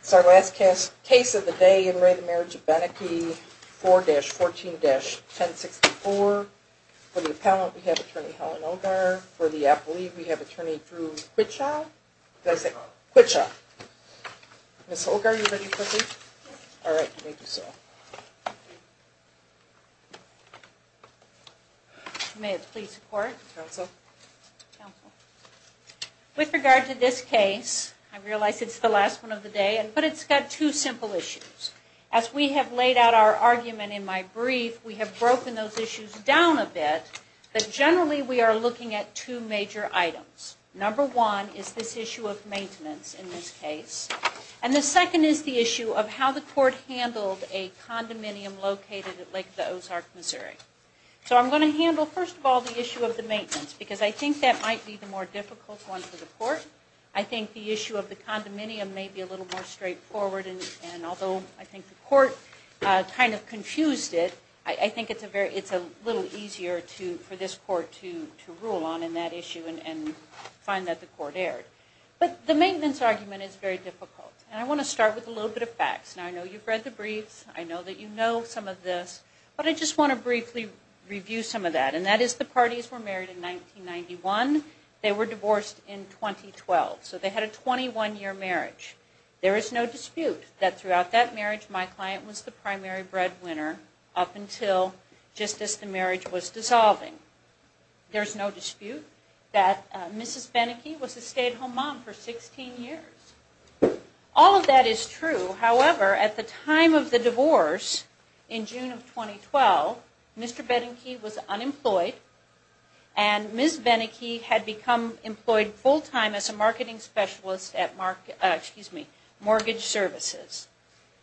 It's our last case of the day in re the Marriage of Benecke 4-14-1064 for the appellant we have attorney Helen Ogar for the appellee we have attorney Drew Quitshaw. Ms. Ogar are you ready for this? With regard to this case I realize it's the last one of the day and but it's got two simple issues as we have laid out our argument in my brief we have broken those issues down a bit but generally we are looking at two major items number one is this issue of maintenance in this case and the second is the issue of how the court handled a condominium located at Lake the Ozark Missouri so I'm going to handle first of all the issue of the maintenance because I think that might be the more difficult one for the court I think the issue of the condominium may be a little more straightforward and although I think the court kind of confused it I think it's a very it's a little easier to for this court to to rule on in that issue and find that the court erred but the maintenance argument is very difficult and I want to start with a little bit of facts and I know you've read the briefs I know that you know some of this but I just want to briefly review some of that and that is the parties were married in 1991 they were divorced in 2012 so they had a 21 year marriage there is no dispute that throughout that marriage my client was the primary breadwinner up until just as the marriage was dissolving there's no Mr. Benneke was a stay-at-home mom for 16 years all of that is true however at the time of the divorce in June of 2012 Mr. Benneke was unemployed and Ms. Benneke had become employed full-time as a marketing specialist at mark excuse me mortgage services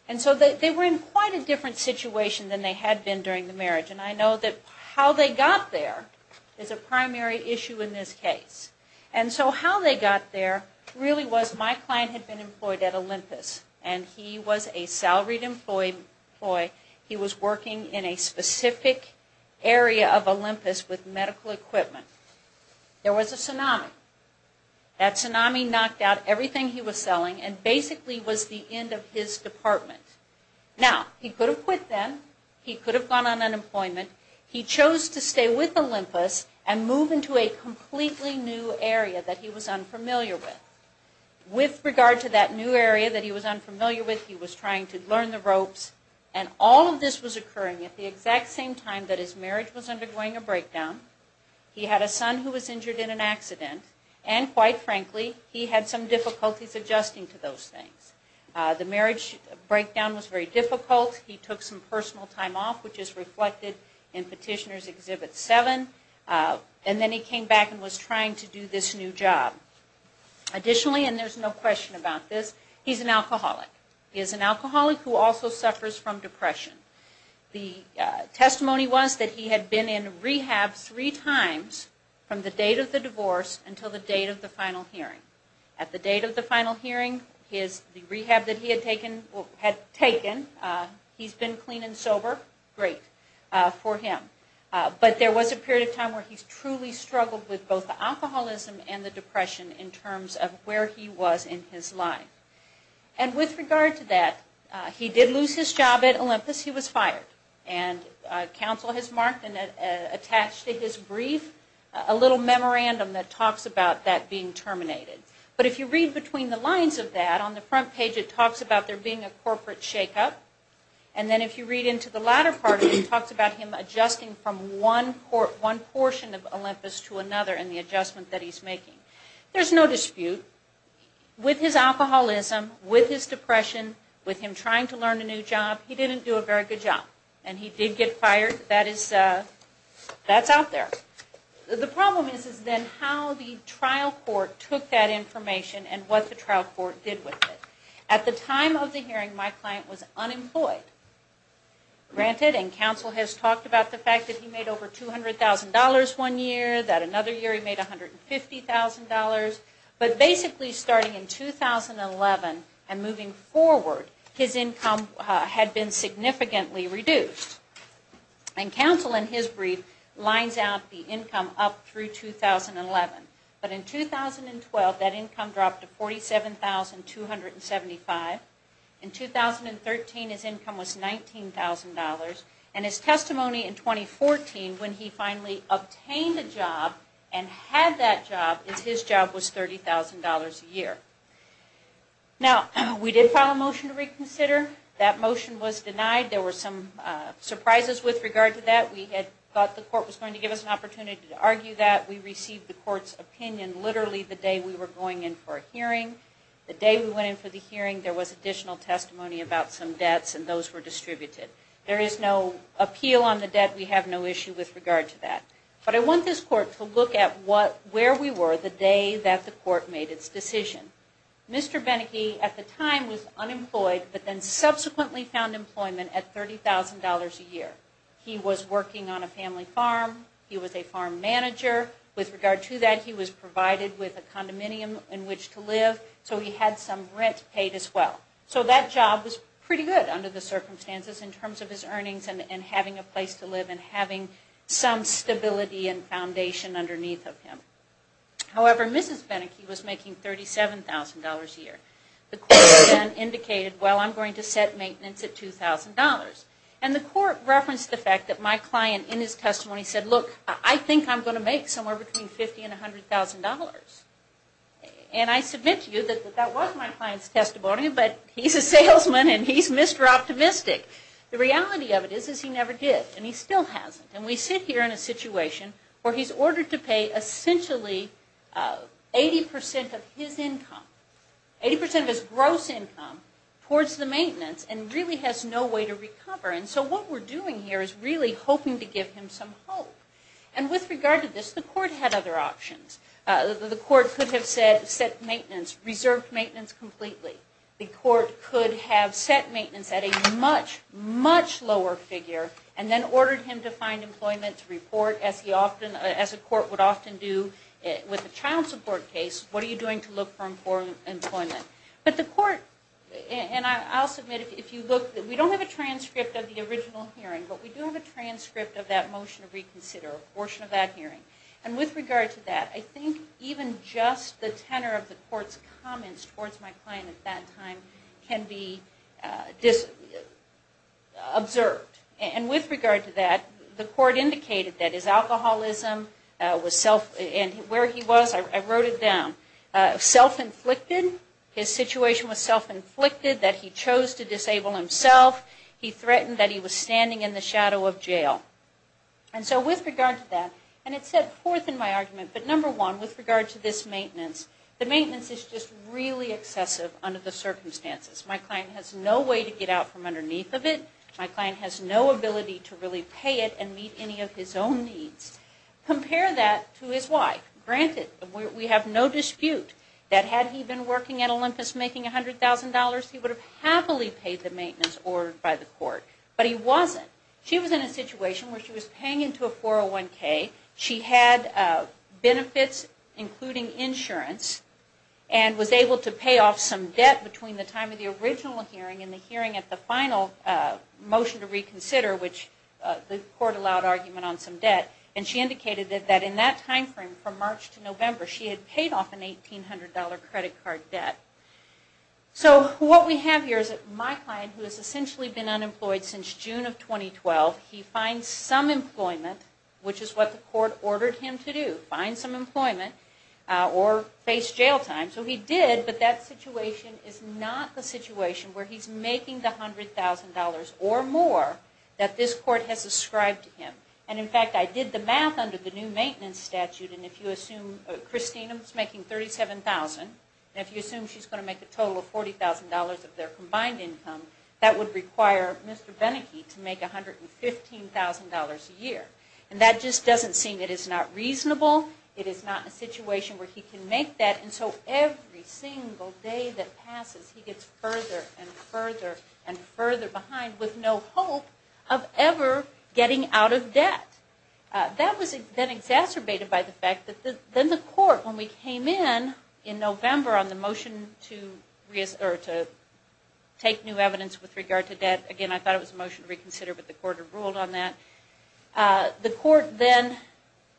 and so they were in quite a different situation than they had been during the marriage and I know that how they got there is a primary issue in this case and so how they got there really was my client had been employed at Olympus and he was a salaried employee boy he was working in a specific area of Olympus with medical equipment there was a tsunami that tsunami knocked out everything he was selling and basically was the end of his department now he could have quit then he could have gone on unemployment he completely new area that he was unfamiliar with with regard to that new area that he was unfamiliar with he was trying to learn the ropes and all of this was occurring at the exact same time that his marriage was undergoing a breakdown he had a son who was injured in an accident and quite frankly he had some difficulties adjusting to those things the marriage breakdown was very difficult he took some personal time off which is reflected in petitioners exhibit seven and then he came back and was trying to do this new job additionally and there's no question about this he's an alcoholic he is an alcoholic who also suffers from depression the testimony was that he had been in rehab three times from the date of the divorce until the date of the final hearing at the date of the final hearing is the rehab that he had taken had taken he's been clean and sober great for him but there was a period of time where he's truly struggled with both the alcoholism and the depression in terms of where he was in his life and with regard to that he did lose his job at Olympus he was fired and counsel has marked and attached to his brief a little memorandum that talks about that being terminated but if you read between the lines of that on the latter part it talks about him adjusting from one portion of Olympus to another and the adjustment that he's making there's no dispute with his alcoholism with his depression with him trying to learn a new job he didn't do a very good job and he did get fired that is that's out there the problem is then how the trial court took that information and what the trial court did with it at the time of the hearing my client was unemployed granted and counsel has talked about the fact that he made over $200,000 one year that another year he made $150,000 but basically starting in 2011 and moving forward his income had been significantly reduced and counsel in his brief lines out the income up through 2011 but in 2012 that income dropped to $47,275 in 2013 his income was $19,000 and his testimony in 2014 when he finally obtained a job and had that job his job was $30,000 a year now we did file a motion to reconsider that motion was denied there were some surprises with regard to that we had thought the court was going to give us an opportunity to argue that we received the court's opinion literally the day we were going in for a hearing the day we went in for the hearing there was additional testimony about some debts and those were distributed there is no appeal on the debt we have no issue with regard to that but I want this court to look at what where we were the day that the court made its decision Mr. Benneke at the time was unemployed but then he had a family farm he was a farm manager with regard to that he was provided with a condominium in which to live so he had some rent paid as well so that job was pretty good under the circumstances in terms of his earnings and having a place to live and having some stability and foundation underneath of him however Mrs. Benneke was making $37,000 a year the court then indicated well I'm going to set maintenance at $2,000 and the court referenced the fact that my client in his testimony said look I think I'm going to make somewhere between $50,000 and $100,000 and I submit to you that that was my client's testimony but he's a salesman and he's Mr. Optimistic the reality of it is is he never did and he still hasn't and we sit here in a situation where he's ordered to pay essentially 80% of his income 80% of his gross income towards the maintenance and really has no way to recover and so what we're doing here is really hoping to give him some hope and with regard to this the court had other options the court could have said set maintenance reserved maintenance completely the court could have set maintenance at a much much lower figure and then ordered him to find employment to report as he often as a court would often do with a child support case what are you doing to look for employment but the court and I'll submit if you look that we hearing but we do have a transcript of that motion to reconsider a portion of that hearing and with regard to that I think even just the tenor of the court's comments towards my client at that time can be observed and with regard to that the court indicated that his alcoholism was self and where he was I wrote it down self-inflicted his situation was self-inflicted that he was standing in the shadow of jail and so with regard to that and it's set forth in my argument but number one with regard to this maintenance the maintenance is just really excessive under the circumstances my client has no way to get out from underneath of it my client has no ability to really pay it and meet any of his own needs compare that to his wife granted we have no dispute that had he been working at Olympus making $100,000 he would have happily paid the maintenance ordered by the court but he wasn't she was in a situation where she was paying into a 401k she had benefits including insurance and was able to pay off some debt between the time of the original hearing and the hearing at the final motion to reconsider which the court allowed argument on some debt and she indicated that in that time frame from March to November she had paid off an $1,800 credit card debt so what we have here is that my client who has essentially been unemployed since June of 2012 he finds some employment which is what the court ordered him to do find some employment or face jail time so he did but that situation is not the situation where he's making the hundred thousand dollars or more that this court has ascribed to him and in fact I did the math under the new maintenance statute and if you assume Christina was making thirty seven thousand if you combine income that would require Mr. Beneke to make a hundred and fifteen thousand dollars a year and that just doesn't seem it is not reasonable it is not a situation where he can make that and so every single day that passes he gets further and further and further behind with no hope of ever getting out of debt that was then exacerbated by the fact that the then the court when we take new evidence with regard to debt again I thought it was motion reconsider but the court ruled on that the court then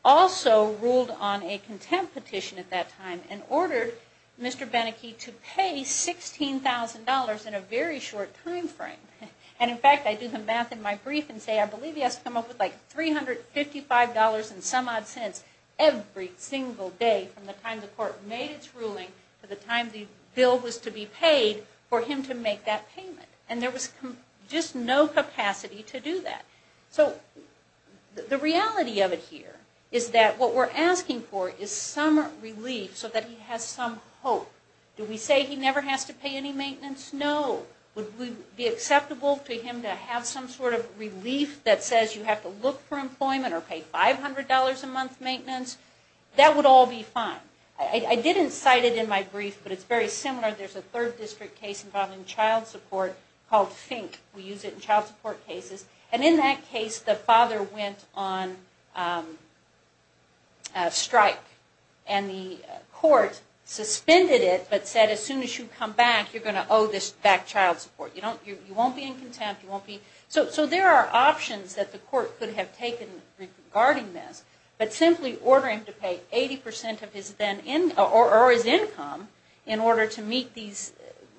also ruled on a contempt petition at that time and ordered Mr. Beneke to pay sixteen thousand dollars in a very short time frame and in fact I do the math in my brief and say I believe he has to come up with like three hundred fifty five dollars and some odd cents every single day from the time the court made its ruling for the time the bill was to be paid for him to make that payment and there was just no capacity to do that so the reality of it here is that what we're asking for is some relief so that he has some hope do we say he never has to pay any maintenance no would we be acceptable to him to have some sort of relief that says you have to look for employment or pay five hundred dollars a month maintenance that would all be fine I didn't cite it in my brief but it's very similar there's a third district case involving child support called Fink we use it in child support cases and in that case the father went on strike and the court suspended it but said as soon as you come back you're going to owe this back child support you don't you won't be in contempt you won't be so there are options that the court could have taken regarding this but simply order him to pay 80% of his income in order to meet these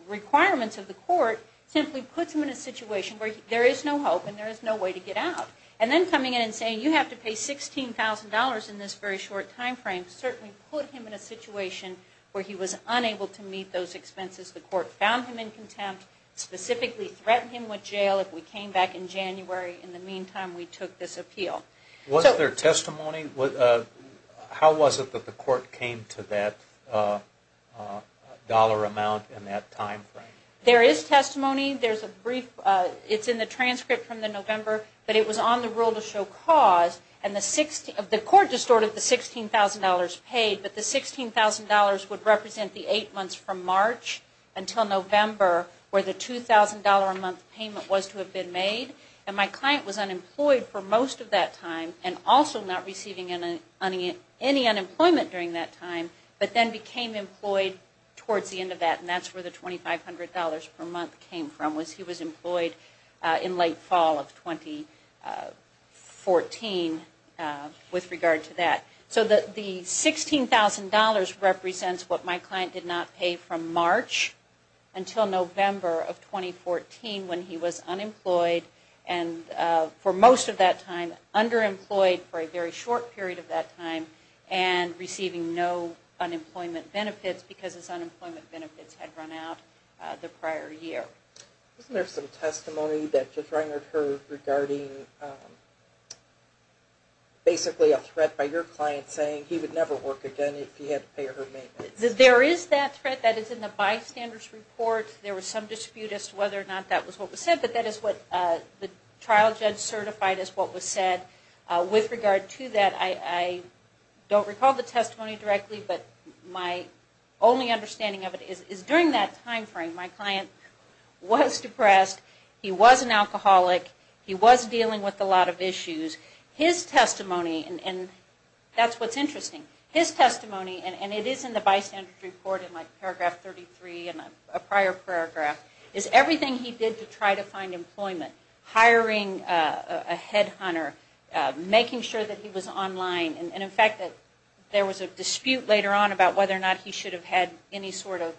requirements of the court simply put him in a situation where there is no hope and there is no way to get out and then coming in and saying you have to pay $16,000 in this very short time frame certainly put him in a situation where he was unable to meet those expenses the court found him in contempt specifically threatened him with jail if we came back in January in the meantime we took this appeal. Was there testimony? How was it that the court came to that dollar amount in that time frame? There is testimony there's a brief it's in the transcript from the November but it was on the rule to show cause and the court distorted the $16,000 paid but the $16,000 would represent the eight months from March until November where the $2,000 a month payment was to have been made and my client was also not receiving any unemployment during that time but then became employed towards the end of that and that's where the $2,500 per month came from was he was employed in late fall of 2014 with regard to that. So the $16,000 represents what my client did not pay from March until November of 2014 when he was unemployed and for most of that time underemployed for a very short period of that time and receiving no unemployment benefits because his unemployment benefits had run out the prior year. Wasn't there some testimony that just rang her regarding basically a threat by your client saying he would never work again if he had to pay her maintenance? There is that threat that is in the bystanders report there was some dispute as to whether or not that was what was said but that is what the trial judge certified as what was said. With regard to that I don't recall the testimony directly but my only understanding of it is during that time frame my client was depressed, he was an alcoholic, he was dealing with a lot of issues. His testimony and that's what's interesting, his testimony and it is in the bystanders report in like paragraph 33 and a prior paragraph is everything he did to try to find or making sure that he was online and in fact that there was a dispute later on about whether or not he should have had any sort of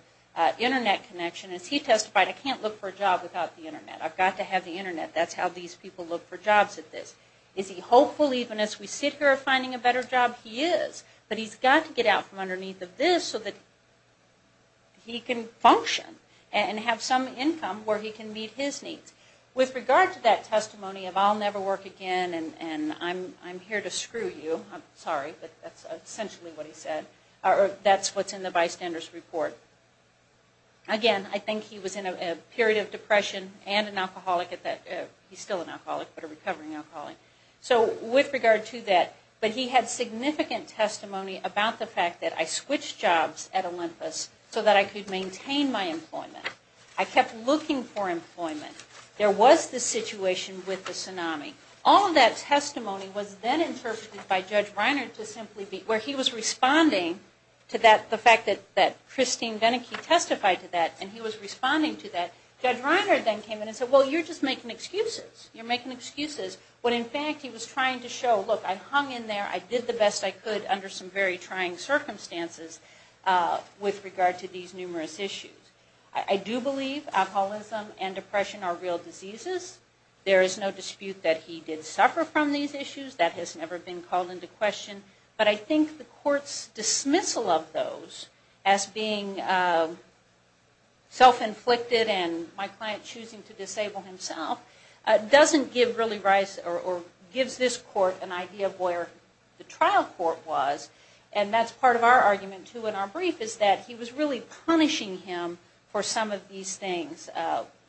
internet connection as he testified I can't look for a job without the internet I've got to have the internet that's how these people look for jobs at this. Is he hopeful even as we sit here finding a better job? He is but he's got to get out from underneath of this so that he can function and have some income where he can meet his needs. With regard to that testimony of I'll never work again and I'm here to screw you, I'm sorry but that's essentially what he said or that's what's in the bystanders report. Again I think he was in a period of depression and an alcoholic at that, he's still an alcoholic but a recovering alcoholic. So with regard to that but he had significant testimony about the fact that I switched jobs at Olympus so that I could maintain my employment. I kept looking for employment. There was the situation with the tsunami. All of that testimony was then interpreted by Judge Reiner to simply be where he was responding to that the fact that Christine Venike testified to that and he was responding to that. Judge Reiner then came in and said well you're just making excuses. You're making excuses when in fact he was trying to show look I hung in there, I did the best I could under some very trying circumstances with regard to these numerous issues. I do believe alcoholism and depression are real diseases. There is no dispute that he did suffer from these issues. That has never been called into question but I think the courts dismissal of those as being self-inflicted and my client choosing to disable himself doesn't give really rise or gives this court an idea of where the trial court was and that's part of our argument too in our brief is that he was really punishing him for some of these things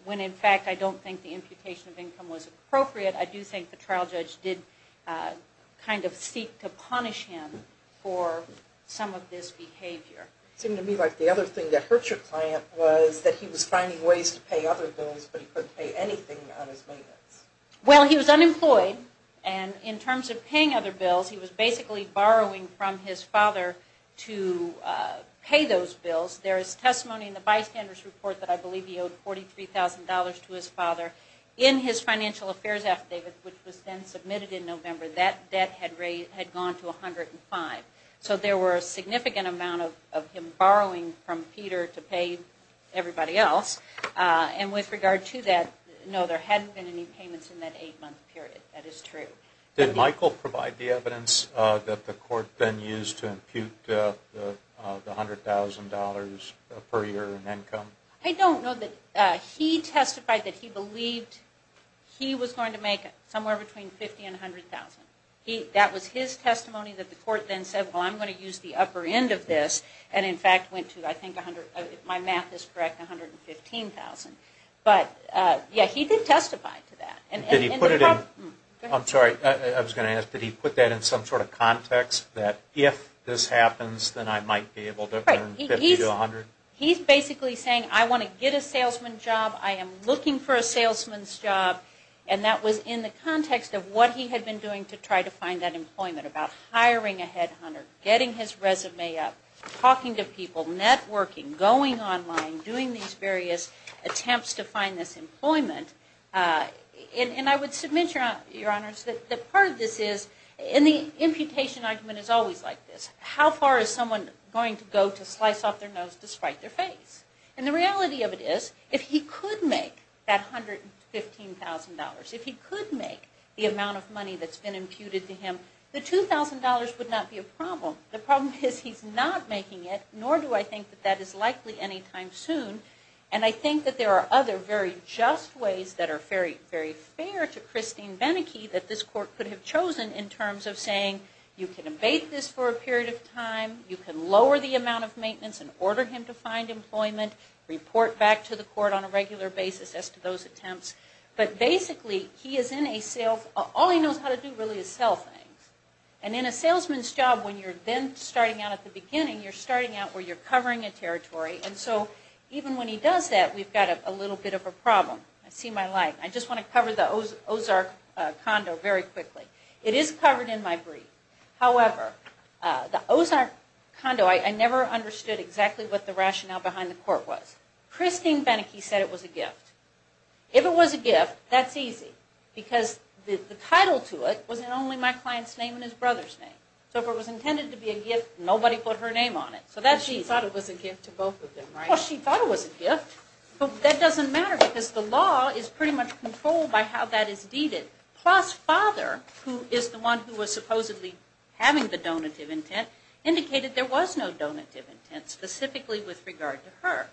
when in fact I don't think the imputation of income was appropriate. I do think the trial judge did kind of seek to punish him for some of this behavior. It seemed to me like the other thing that hurt your client was that he was finding ways to pay other bills but he couldn't pay anything on his maintenance. Well he was unemployed and in terms of paying other bills he was basically borrowing from his father to pay those bills. There is testimony in the bystanders report that I believe he owed $43,000 to his father. In his financial affairs affidavit which was then submitted in November that debt had gone to $105,000. So there were a significant amount of him borrowing from Peter to pay everybody else and with regard to that no there hadn't been any payments in that eight month period. That is true. Did Michael provide the evidence that the court then used to impute the $100,000 per year in income? I don't know that he testified that he believed he was going to make somewhere between $50,000 and $100,000. That was his testimony that the court then said well I'm going to use the upper end of this and in fact went to I think my math is correct $115,000. But yeah he did testify to that. Did he put it in, I'm going to ask, did he put that in some sort of context that if this happens then I might be able to earn $50,000 to $100,000? He's basically saying I want to get a salesman job. I am looking for a salesman's job and that was in the context of what he had been doing to try to find that employment about hiring a headhunter, getting his resume up, talking to people, networking, going online, doing these various attempts to find this employment. And I would submit, Your Honors, that part of this is, and the imputation argument is always like this, how far is someone going to go to slice off their nose to spite their face? And the reality of it is if he could make that $115,000, if he could make the amount of money that's been imputed to him, the $2,000 would not be a problem. The problem is he's not making it, nor do I think that that is likely anytime soon. And I think that there are other very just ways that are very, very fair to Christine Beneke that this court could have chosen in terms of saying you can abate this for a period of time, you can lower the amount of maintenance and order him to find employment, report back to the court on a regular basis as to those attempts. But basically he is in a sales, all he knows how to do really is sell things. And in a salesman's job when you're then starting out at the beginning, you're starting out where you're covering a territory. And so even when he does that we've got a little bit of a problem. I just want to cover the Ozark condo very quickly. It is covered in my brief. However, the Ozark condo, I never understood exactly what the rationale behind the court was. Christine Beneke said it was a gift. If it was a gift, that's easy. Because the title to it was in only my client's name and his brother's name. So if it was intended to be a gift, nobody put her name on it. So that's easy. She thought it was a gift to both of them, right? Well, she thought it was a gift, but that doesn't matter because the law is pretty much controlled by how that is deeded. Plus, father, who is the one who was supposedly having the donative intent, indicated there was no donative intent specifically with regard to her.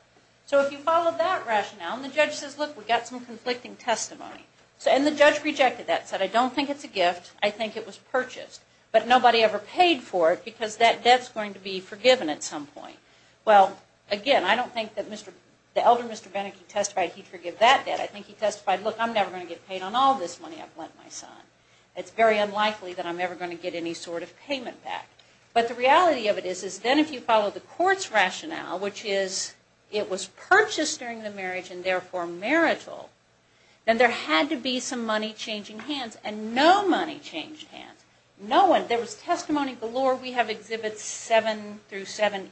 So if you follow that rationale, and the judge says, look, we've got some conflicting testimony. And the judge rejected that, said, I don't think it's a gift. I think it was purchased. But nobody ever paid for it because that debt's going to be forgiven at some point. Well, again, I don't think that the elder Mr. Beneke testified he'd forgive that debt. I think he testified, look, I'm never going to get paid on all this money I've lent my son. It's very unlikely that I'm ever going to get any sort of payment back. But the reality of it is then if you follow the court's rationale, which is it was purchased during the marriage and therefore marital, then there had to be some money changing hands. And no money changed hands. There was testimony galore. We have exhibits seven through seven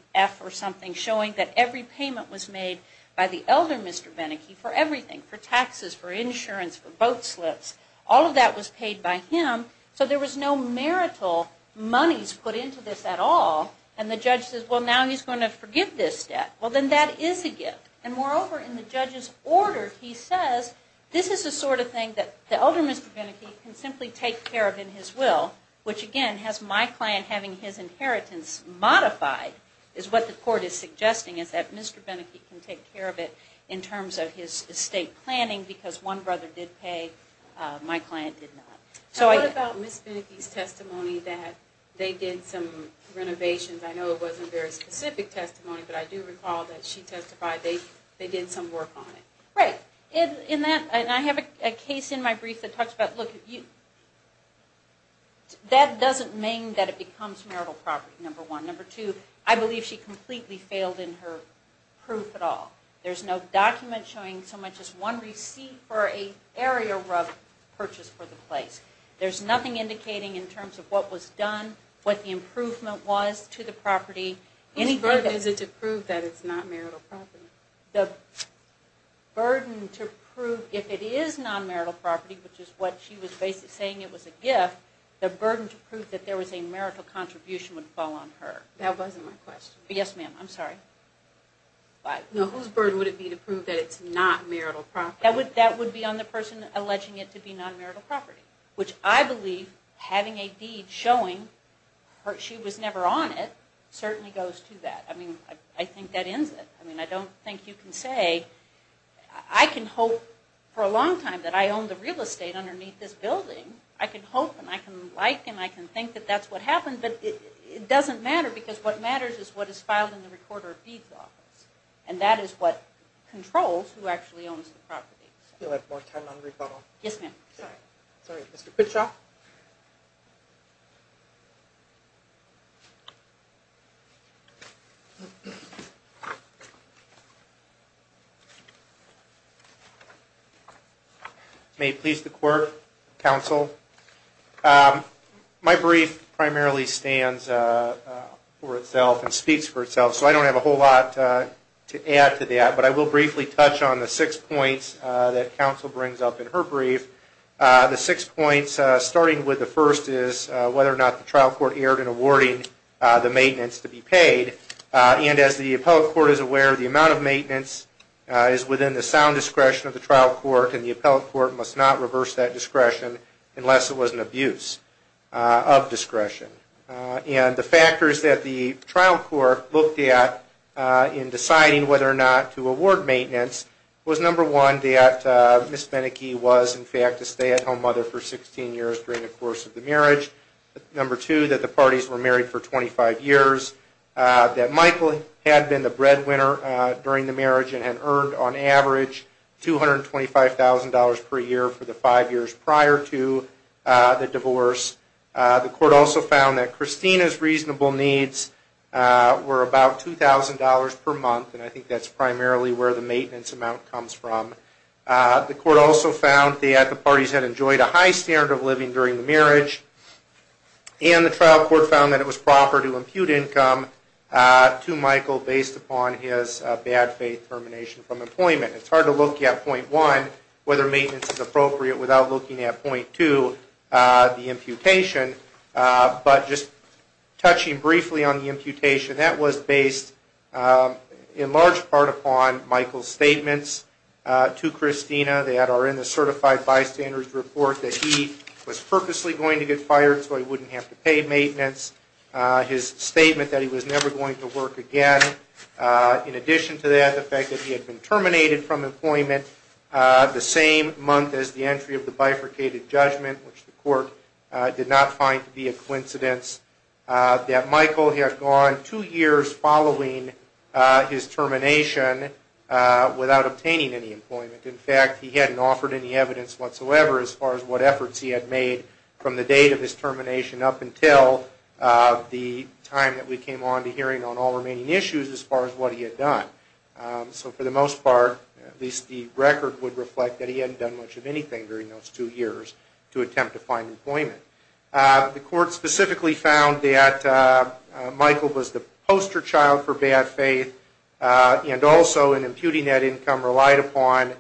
showing that every payment was made by the elder Mr. Beneke for everything, for taxes, for insurance, for boat slips. All of that was paid by him. So there was no marital monies put into this at all. And the judge says, well, now he's going to forgive this debt. Well, then that is a gift. And moreover, in the judge's order, he says this is the sort of thing that the elder Mr. Beneke can simply take care of in his will, which again has my client having his estate. So what the court is suggesting is that Mr. Beneke can take care of it in terms of his estate planning because one brother did pay, my client did not. So what about Ms. Beneke's testimony that they did some renovations? I know it wasn't very specific testimony, but I do recall that she testified they did some work on it. Right. In that, and I have a case in my brief that talks about, look, that doesn't mean that it becomes marital property, number one. Number two, I believe she completely failed in her proof at all. There's no document showing so much as one receipt for a area rub purchase for the place. There's nothing indicating in terms of what was done, what the improvement was to the property. Whose burden is it to prove that it's not marital property? The burden to prove if it is non-marital property, which is what she was basically saying it was a gift, the burden to prove that there was a marital contribution would fall on her. That wasn't my question. Yes ma'am, I'm sorry. Whose burden would it be to prove that it's not marital property? That would be on the person alleging it to be non-marital property, which I believe having a deed showing she was never on it certainly goes to that. I mean, I think that ends it. I mean, I don't think you can say, I can hope for a long time that I own the real estate underneath this building. I can hope, and I can like, and I can think that that's what happened, but it doesn't matter because what matters is what is filed in the recorder of deeds office, and that is what controls who actually owns the property. We'll have more time on rebuttal. Yes ma'am. Sorry. Sorry. Mr. Kitchoff? May it please the court, counsel. My brief primarily stands for itself and speaks for itself, so I don't have a whole lot to add to that, but I will briefly touch on the six points that counsel brings up in her brief. The six points, starting with the first is whether or not the trial court erred in awarding the maintenance to be paid, and as the appellate court is aware, the amount of maintenance is within the sound discretion of the trial court, and the appellate court must not reverse that discretion unless it was an abuse of discretion. And the factors that the trial court looked at in deciding whether or not to award maintenance was number one, that Ms. Meneke was in fact a stay-at-home mother for 16 years during the course of the marriage. Number two, that the parties were married for 25 years, that Michael had been the breadwinner during the marriage and had earned on average $225,000 per year for the five years prior to the divorce. The court also found that Christina's reasonable needs were about $2,000 per month, and I think that's primarily where the maintenance amount comes from. The court also found that the parties had enjoyed a high standard of living during the marriage, and the trial court found that it was proper to impute income to Michael based upon his bad faith termination from employment. It's hard to look at point one, whether maintenance is appropriate, without looking at point two, the imputation. But just touching briefly on the imputation, that was based in large part upon Michael's statements to Christina that are in the certified bystander's report that he was purposely going to get fired so he wouldn't have to pay maintenance. His statement that he was never going to work again. In addition to that, the fact that he had been as the entry of the bifurcated judgment, which the court did not find to be a coincidence, that Michael had gone two years following his termination without obtaining any employment. In fact, he hadn't offered any evidence whatsoever as far as what efforts he had made from the date of his termination up until the time that we came on to hearing on all remaining issues as far as what he had done. So for the most part, at least the record would reflect that he hadn't done much of anything during those two years to attempt to find employment. The court specifically found that Michael was the poster child for bad faith and also in imputing that income relied upon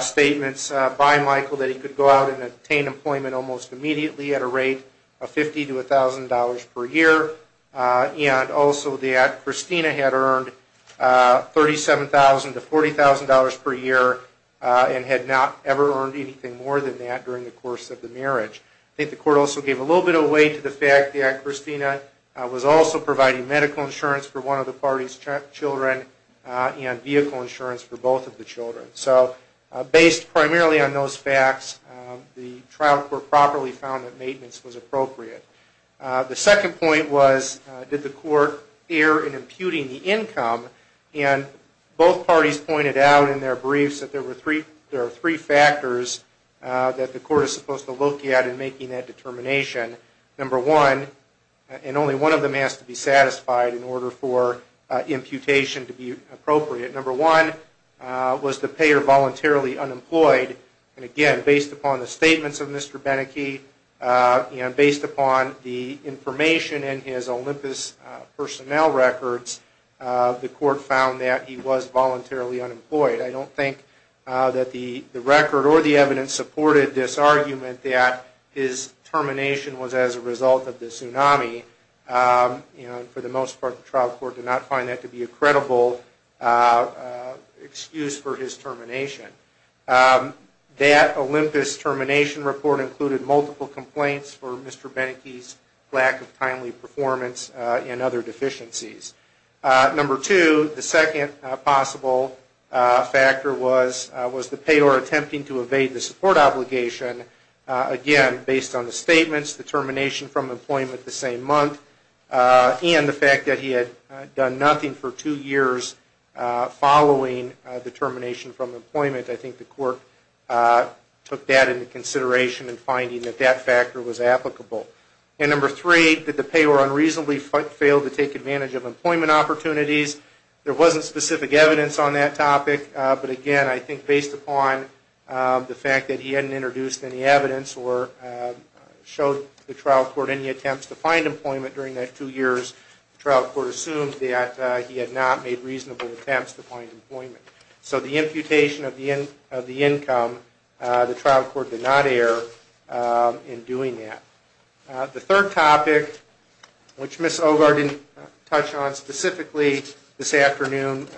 statements by Michael that he could go out and obtain employment almost immediately at a rate of $50,000 to $1,000 per year and also that Christina had earned $37,000 to $40,000 per year and had not ever earned anything more than that during the course of the marriage. I think the court also gave a little bit of weight to the fact that Christina was also providing medical insurance for one of the party's children and vehicle insurance for both of the children. So based primarily on those facts, the trial court properly found that maintenance was appropriate. The second point was did the court err in imputing the income and both parties pointed out in their briefs that there are three factors that the court is supposed to look at in making that determination. Number one, and only one of them has to be satisfied in order for imputation to be appropriate, number one was the payer voluntarily unemployed and again based upon the statements of Mr. Beneke and based upon the information in his Olympus personnel records, the court found that he was voluntarily unemployed. I don't think that the record or the evidence supported this argument that his termination was as a result of the tsunami and for the most part the trial court did not find that to be a credible excuse for his termination. That Olympus termination report included multiple complaints for Mr. Beneke's lack of timely factor was the payer attempting to evade the support obligation, again based on the statements, the termination from employment the same month and the fact that he had done nothing for two years following the termination from employment. I think the court took that into consideration in finding that that factor was applicable. And number three, did the payer unreasonably fail to take advantage of employment opportunities? There wasn't specific evidence on that topic, but again I think based upon the fact that he hadn't introduced any evidence or showed the trial court any attempts to find employment during that two years, the trial court assumed that he had not made reasonable attempts to find employment. So the imputation of the income, the trial court did not err in doing that. The court did not touch on specifically this afternoon,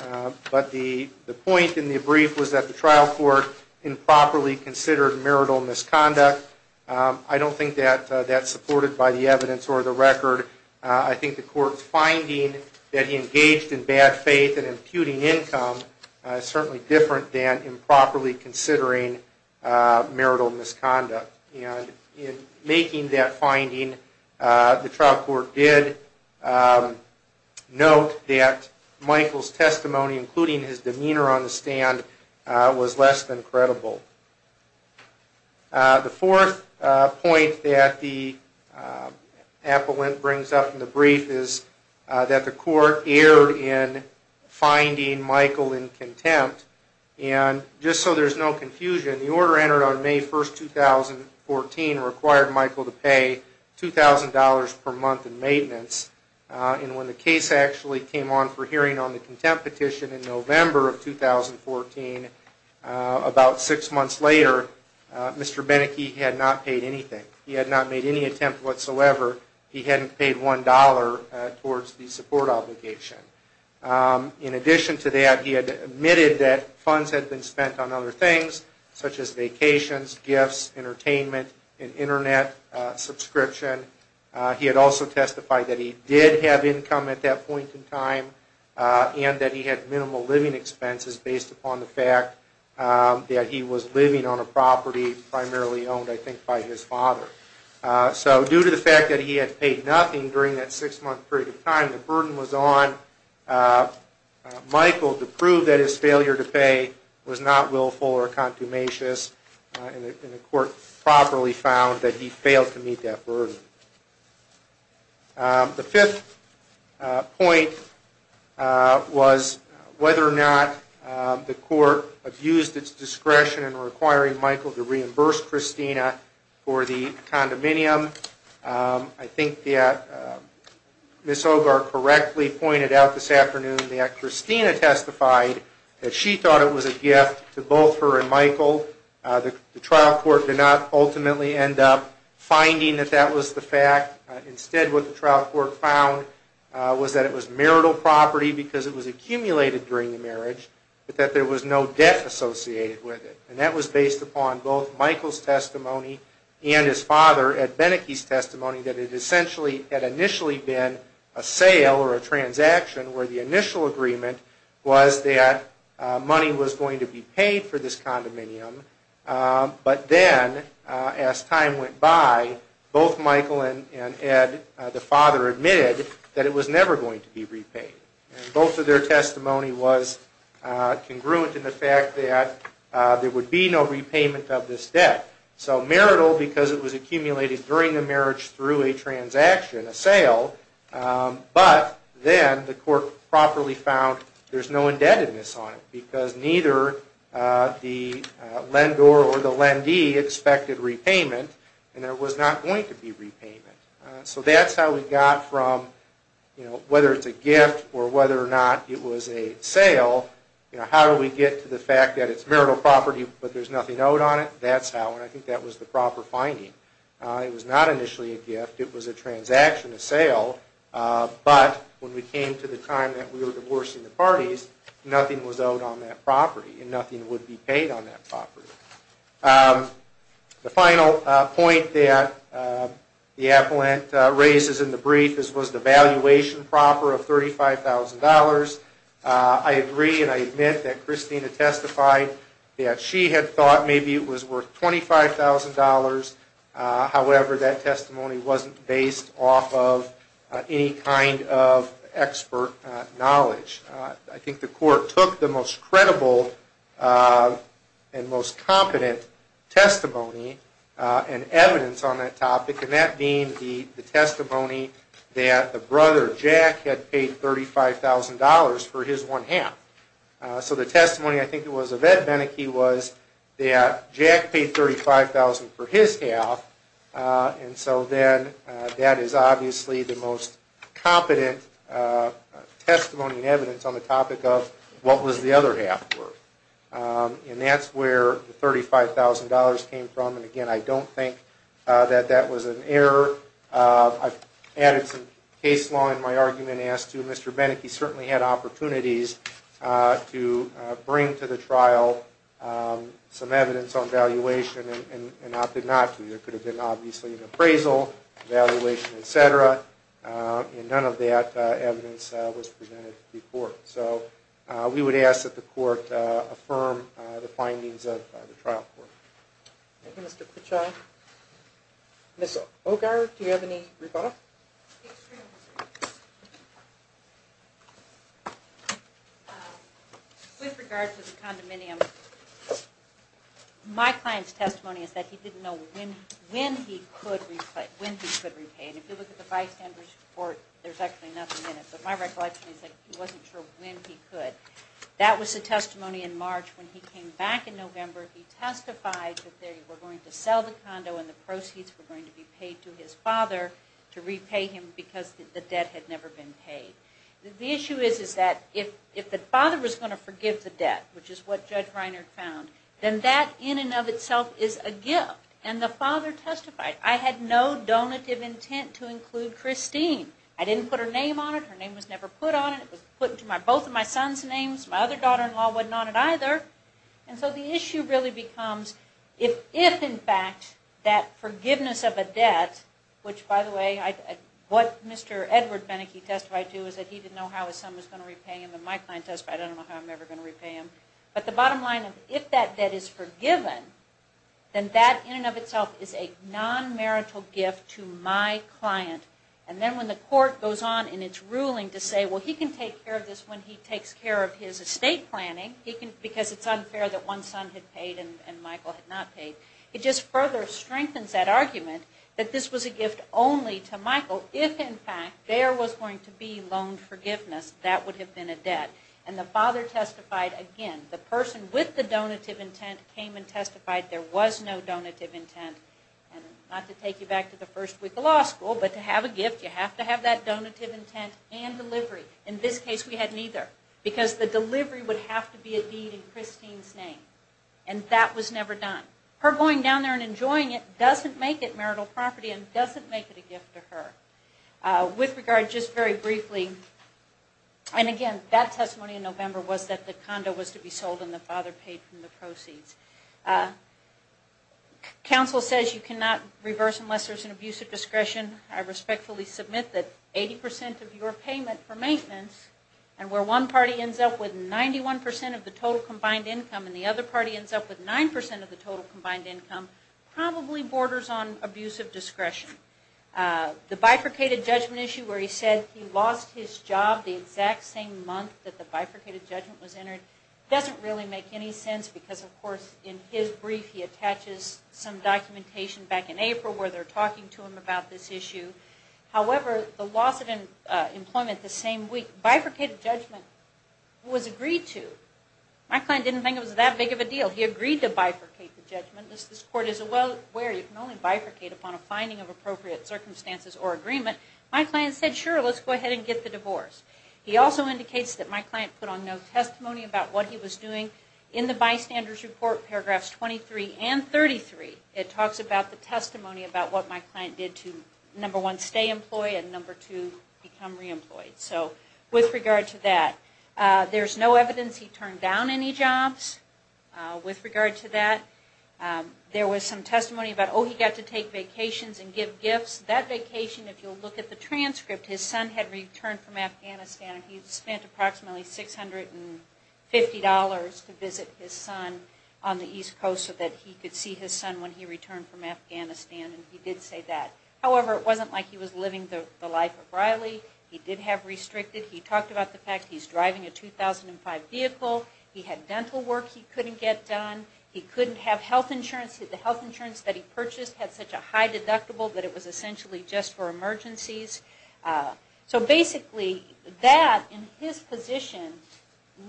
but the point in the brief was that the trial court improperly considered marital misconduct. I don't think that that's supported by the evidence or the record. I think the court's finding that he engaged in bad faith and imputing income is certainly different than improperly considering marital misconduct. And in making that finding, the trial court did note that Michael's testimony, including his demeanor on the stand, was less than credible. The fourth point that the appellant brings up in the brief is that the court erred in finding Michael in contempt. And just so there's no confusion, the order entered on May 1st, 2014 required Michael to pay $2,000 per month in maintenance. And when the case actually came on for hearing on the contempt petition in November of 2014, about six months later, Mr. Benneke had not paid anything. He had not made any attempt whatsoever. He hadn't paid $1 towards the support obligation. In addition to that, he had admitted that funds had been spent on other things, such as vacations, gifts, entertainment, and also testified that he did have income at that point in time and that he had minimal living expenses based upon the fact that he was living on a property primarily owned, I think, by his father. So due to the fact that he had paid nothing during that six-month period of time, the burden was on Michael to prove that his failure to pay was not willful or a contumacious, and the court properly found that he failed to meet that burden. The fifth point was whether or not the court abused its discretion in requiring Michael to reimburse Christina for the condominium. I think that Ms. Ogar correctly pointed out this afternoon that Christina testified that she thought it was a gift to both her and Michael. The trial court did not ultimately end up finding that that was the fact. Instead, what the trial court found was that it was marital property because it was accumulated during the marriage, but that there was no debt associated with it. And that was based upon both Michael's testimony and his father Ed Benneke's testimony that it essentially had initially been a sale or a transaction where the initial agreement was that money was going to be paid for the condominium. But then, as time went by, both Michael and Ed, the father, admitted that it was never going to be repaid. Both of their testimony was congruent in the fact that there would be no repayment of this debt. So marital because it was accumulated during the marriage through a transaction, a sale, but then the court properly found there's no indebtedness on it because neither the lender or the lendee expected repayment, and there was not going to be repayment. So that's how we got from, you know, whether it's a gift or whether or not it was a sale, you know, how do we get to the fact that it's marital property but there's nothing owed on it? That's how, and I think that was the proper finding. It was not initially a gift. It was a transaction, a sale, but when we came to the time that we were divorcing the parties, nothing was owed on that property and nothing would be paid on that property. The final point that the appellant raises in the brief is, was the valuation proper of $35,000? I agree and I admit that Christina testified that she had thought maybe it was worth $25,000. However, that testimony wasn't based off of any kind of expert knowledge. I think the court took the most credible and most competent testimony and evidence on that topic, and that being the testimony that the brother, Jack, had paid $35,000 for his one half. So the testimony, I think it was of Ed Benneke, was that Jack paid $35,000 for his half, and so then that is obviously the most competent testimony and evidence on the topic of what was the other half worth. And that's where the $35,000 came from, and again, I don't think that that was an error. I've added some case law in my argument as to Mr. Benneke certainly had opportunities to bring to the trial some evidence on valuation and opted not to. There could have been obviously an appraisal, valuation, etc., and none of that evidence was presented to the court. So we would ask that the court affirm the findings of the trial court. Thank you, Mr. Pichai. Ms. Ogar, do you have any rebuttals? With regard to the condominium, my client's testimony is that he didn't know when he could repay, and if you look at the bystander's report, there's actually nothing in it. But my recollection is that he wasn't sure when he could. That was the testimony in March. When he came back in November, he testified that they were going to sell the condo and the proceeds were going to be paid to his father to repay him because the debt had never been paid. The issue is that if the father was going to forgive the debt, which is what Judge Reiner found, then that in and of itself is a gift. And the father testified. I had no donative intent to include Christine. I didn't put her name on it. Her name was never put on it. It was put into both of my son's names. My other daughter-in-law wasn't on it either. And so the issue really becomes if, in fact, that forgiveness of a debt, which by the way, what Mr. Edward Beneke testified to is that he didn't know how his son was going to repay him. And my client testified, I don't know how I'm ever going to repay him. But the bottom line of if that debt is forgiven, then that in and of itself is a non-marital gift to my client. And then when the court goes on in its ruling to say, well, he can take care of this when he takes care of his estate planning because it's unfair that one son had paid and Michael had not paid, it just further strengthens that argument that this was a gift only to Michael. If, in fact, there was going to be loaned forgiveness, that would have been a debt. And the father testified again. The person with the donative intent came and testified there was no donative intent. And not to take you back to the first week of law school, but to have a gift, you have to have that donative intent and delivery. In this case, we had neither because the delivery would have to be a deed in Christine's name. And that was never done. Her going down there and enjoying it doesn't make it marital property and doesn't make it a gift to her. With regard, just very briefly, and again, that testimony in November was that the condo was to be sold and the father paid from the proceeds. Counsel says you cannot reverse unless there's an abuse of discretion. I respectfully submit that 80% of your payment for maintenance and where one party ends up with 91% of the total combined income and the other party ends up with 9% of the total combined income probably borders on abuse of discretion. The bifurcated judgment issue where he said he lost his job the exact same month that the bifurcated judgment was entered doesn't really make any sense because, of course, in his brief he attaches some documentation back in April where they're talking to him about this issue. However, the loss of employment the same week, bifurcated judgment was agreed to. My client didn't think it was that big of a deal. He agreed to bifurcate the judgment. This court is aware you can only bifurcate upon a finding of appropriate circumstances or agreement. My client said, sure, let's go ahead and get the divorce. He also indicates that my client put on no testimony about what he was doing. In the bystanders report, paragraphs 23 and 21 stay employed and number 2 become reemployed. So with regard to that, there's no evidence he turned down any jobs. With regard to that, there was some testimony about, oh, he got to take vacations and give gifts. That vacation, if you'll look at the transcript, his son had returned from Afghanistan. He spent approximately $650 to visit his son on the East Coast so that he could see his son when he returned from Afghanistan. He did say that. However, it wasn't like he was living the life of Riley. He did have restricted. He talked about the fact he's driving a 2005 vehicle. He had dental work he couldn't get done. He couldn't have health insurance. The health insurance that he purchased had such a high deductible that it was essentially just for emergencies. So basically, that in his position,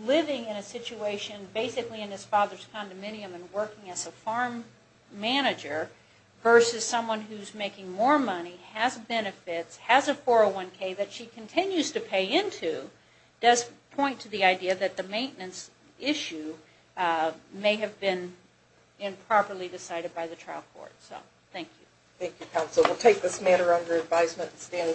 living in a situation, basically in his father's condominium and working as a farm manager versus someone who's making more money, has benefits, has a 401k that she continues to pay into, does point to the idea that the maintenance issue may have been improperly decided by the trial court. So, thank you. Thank you, counsel. We'll take this matter under advisement and stand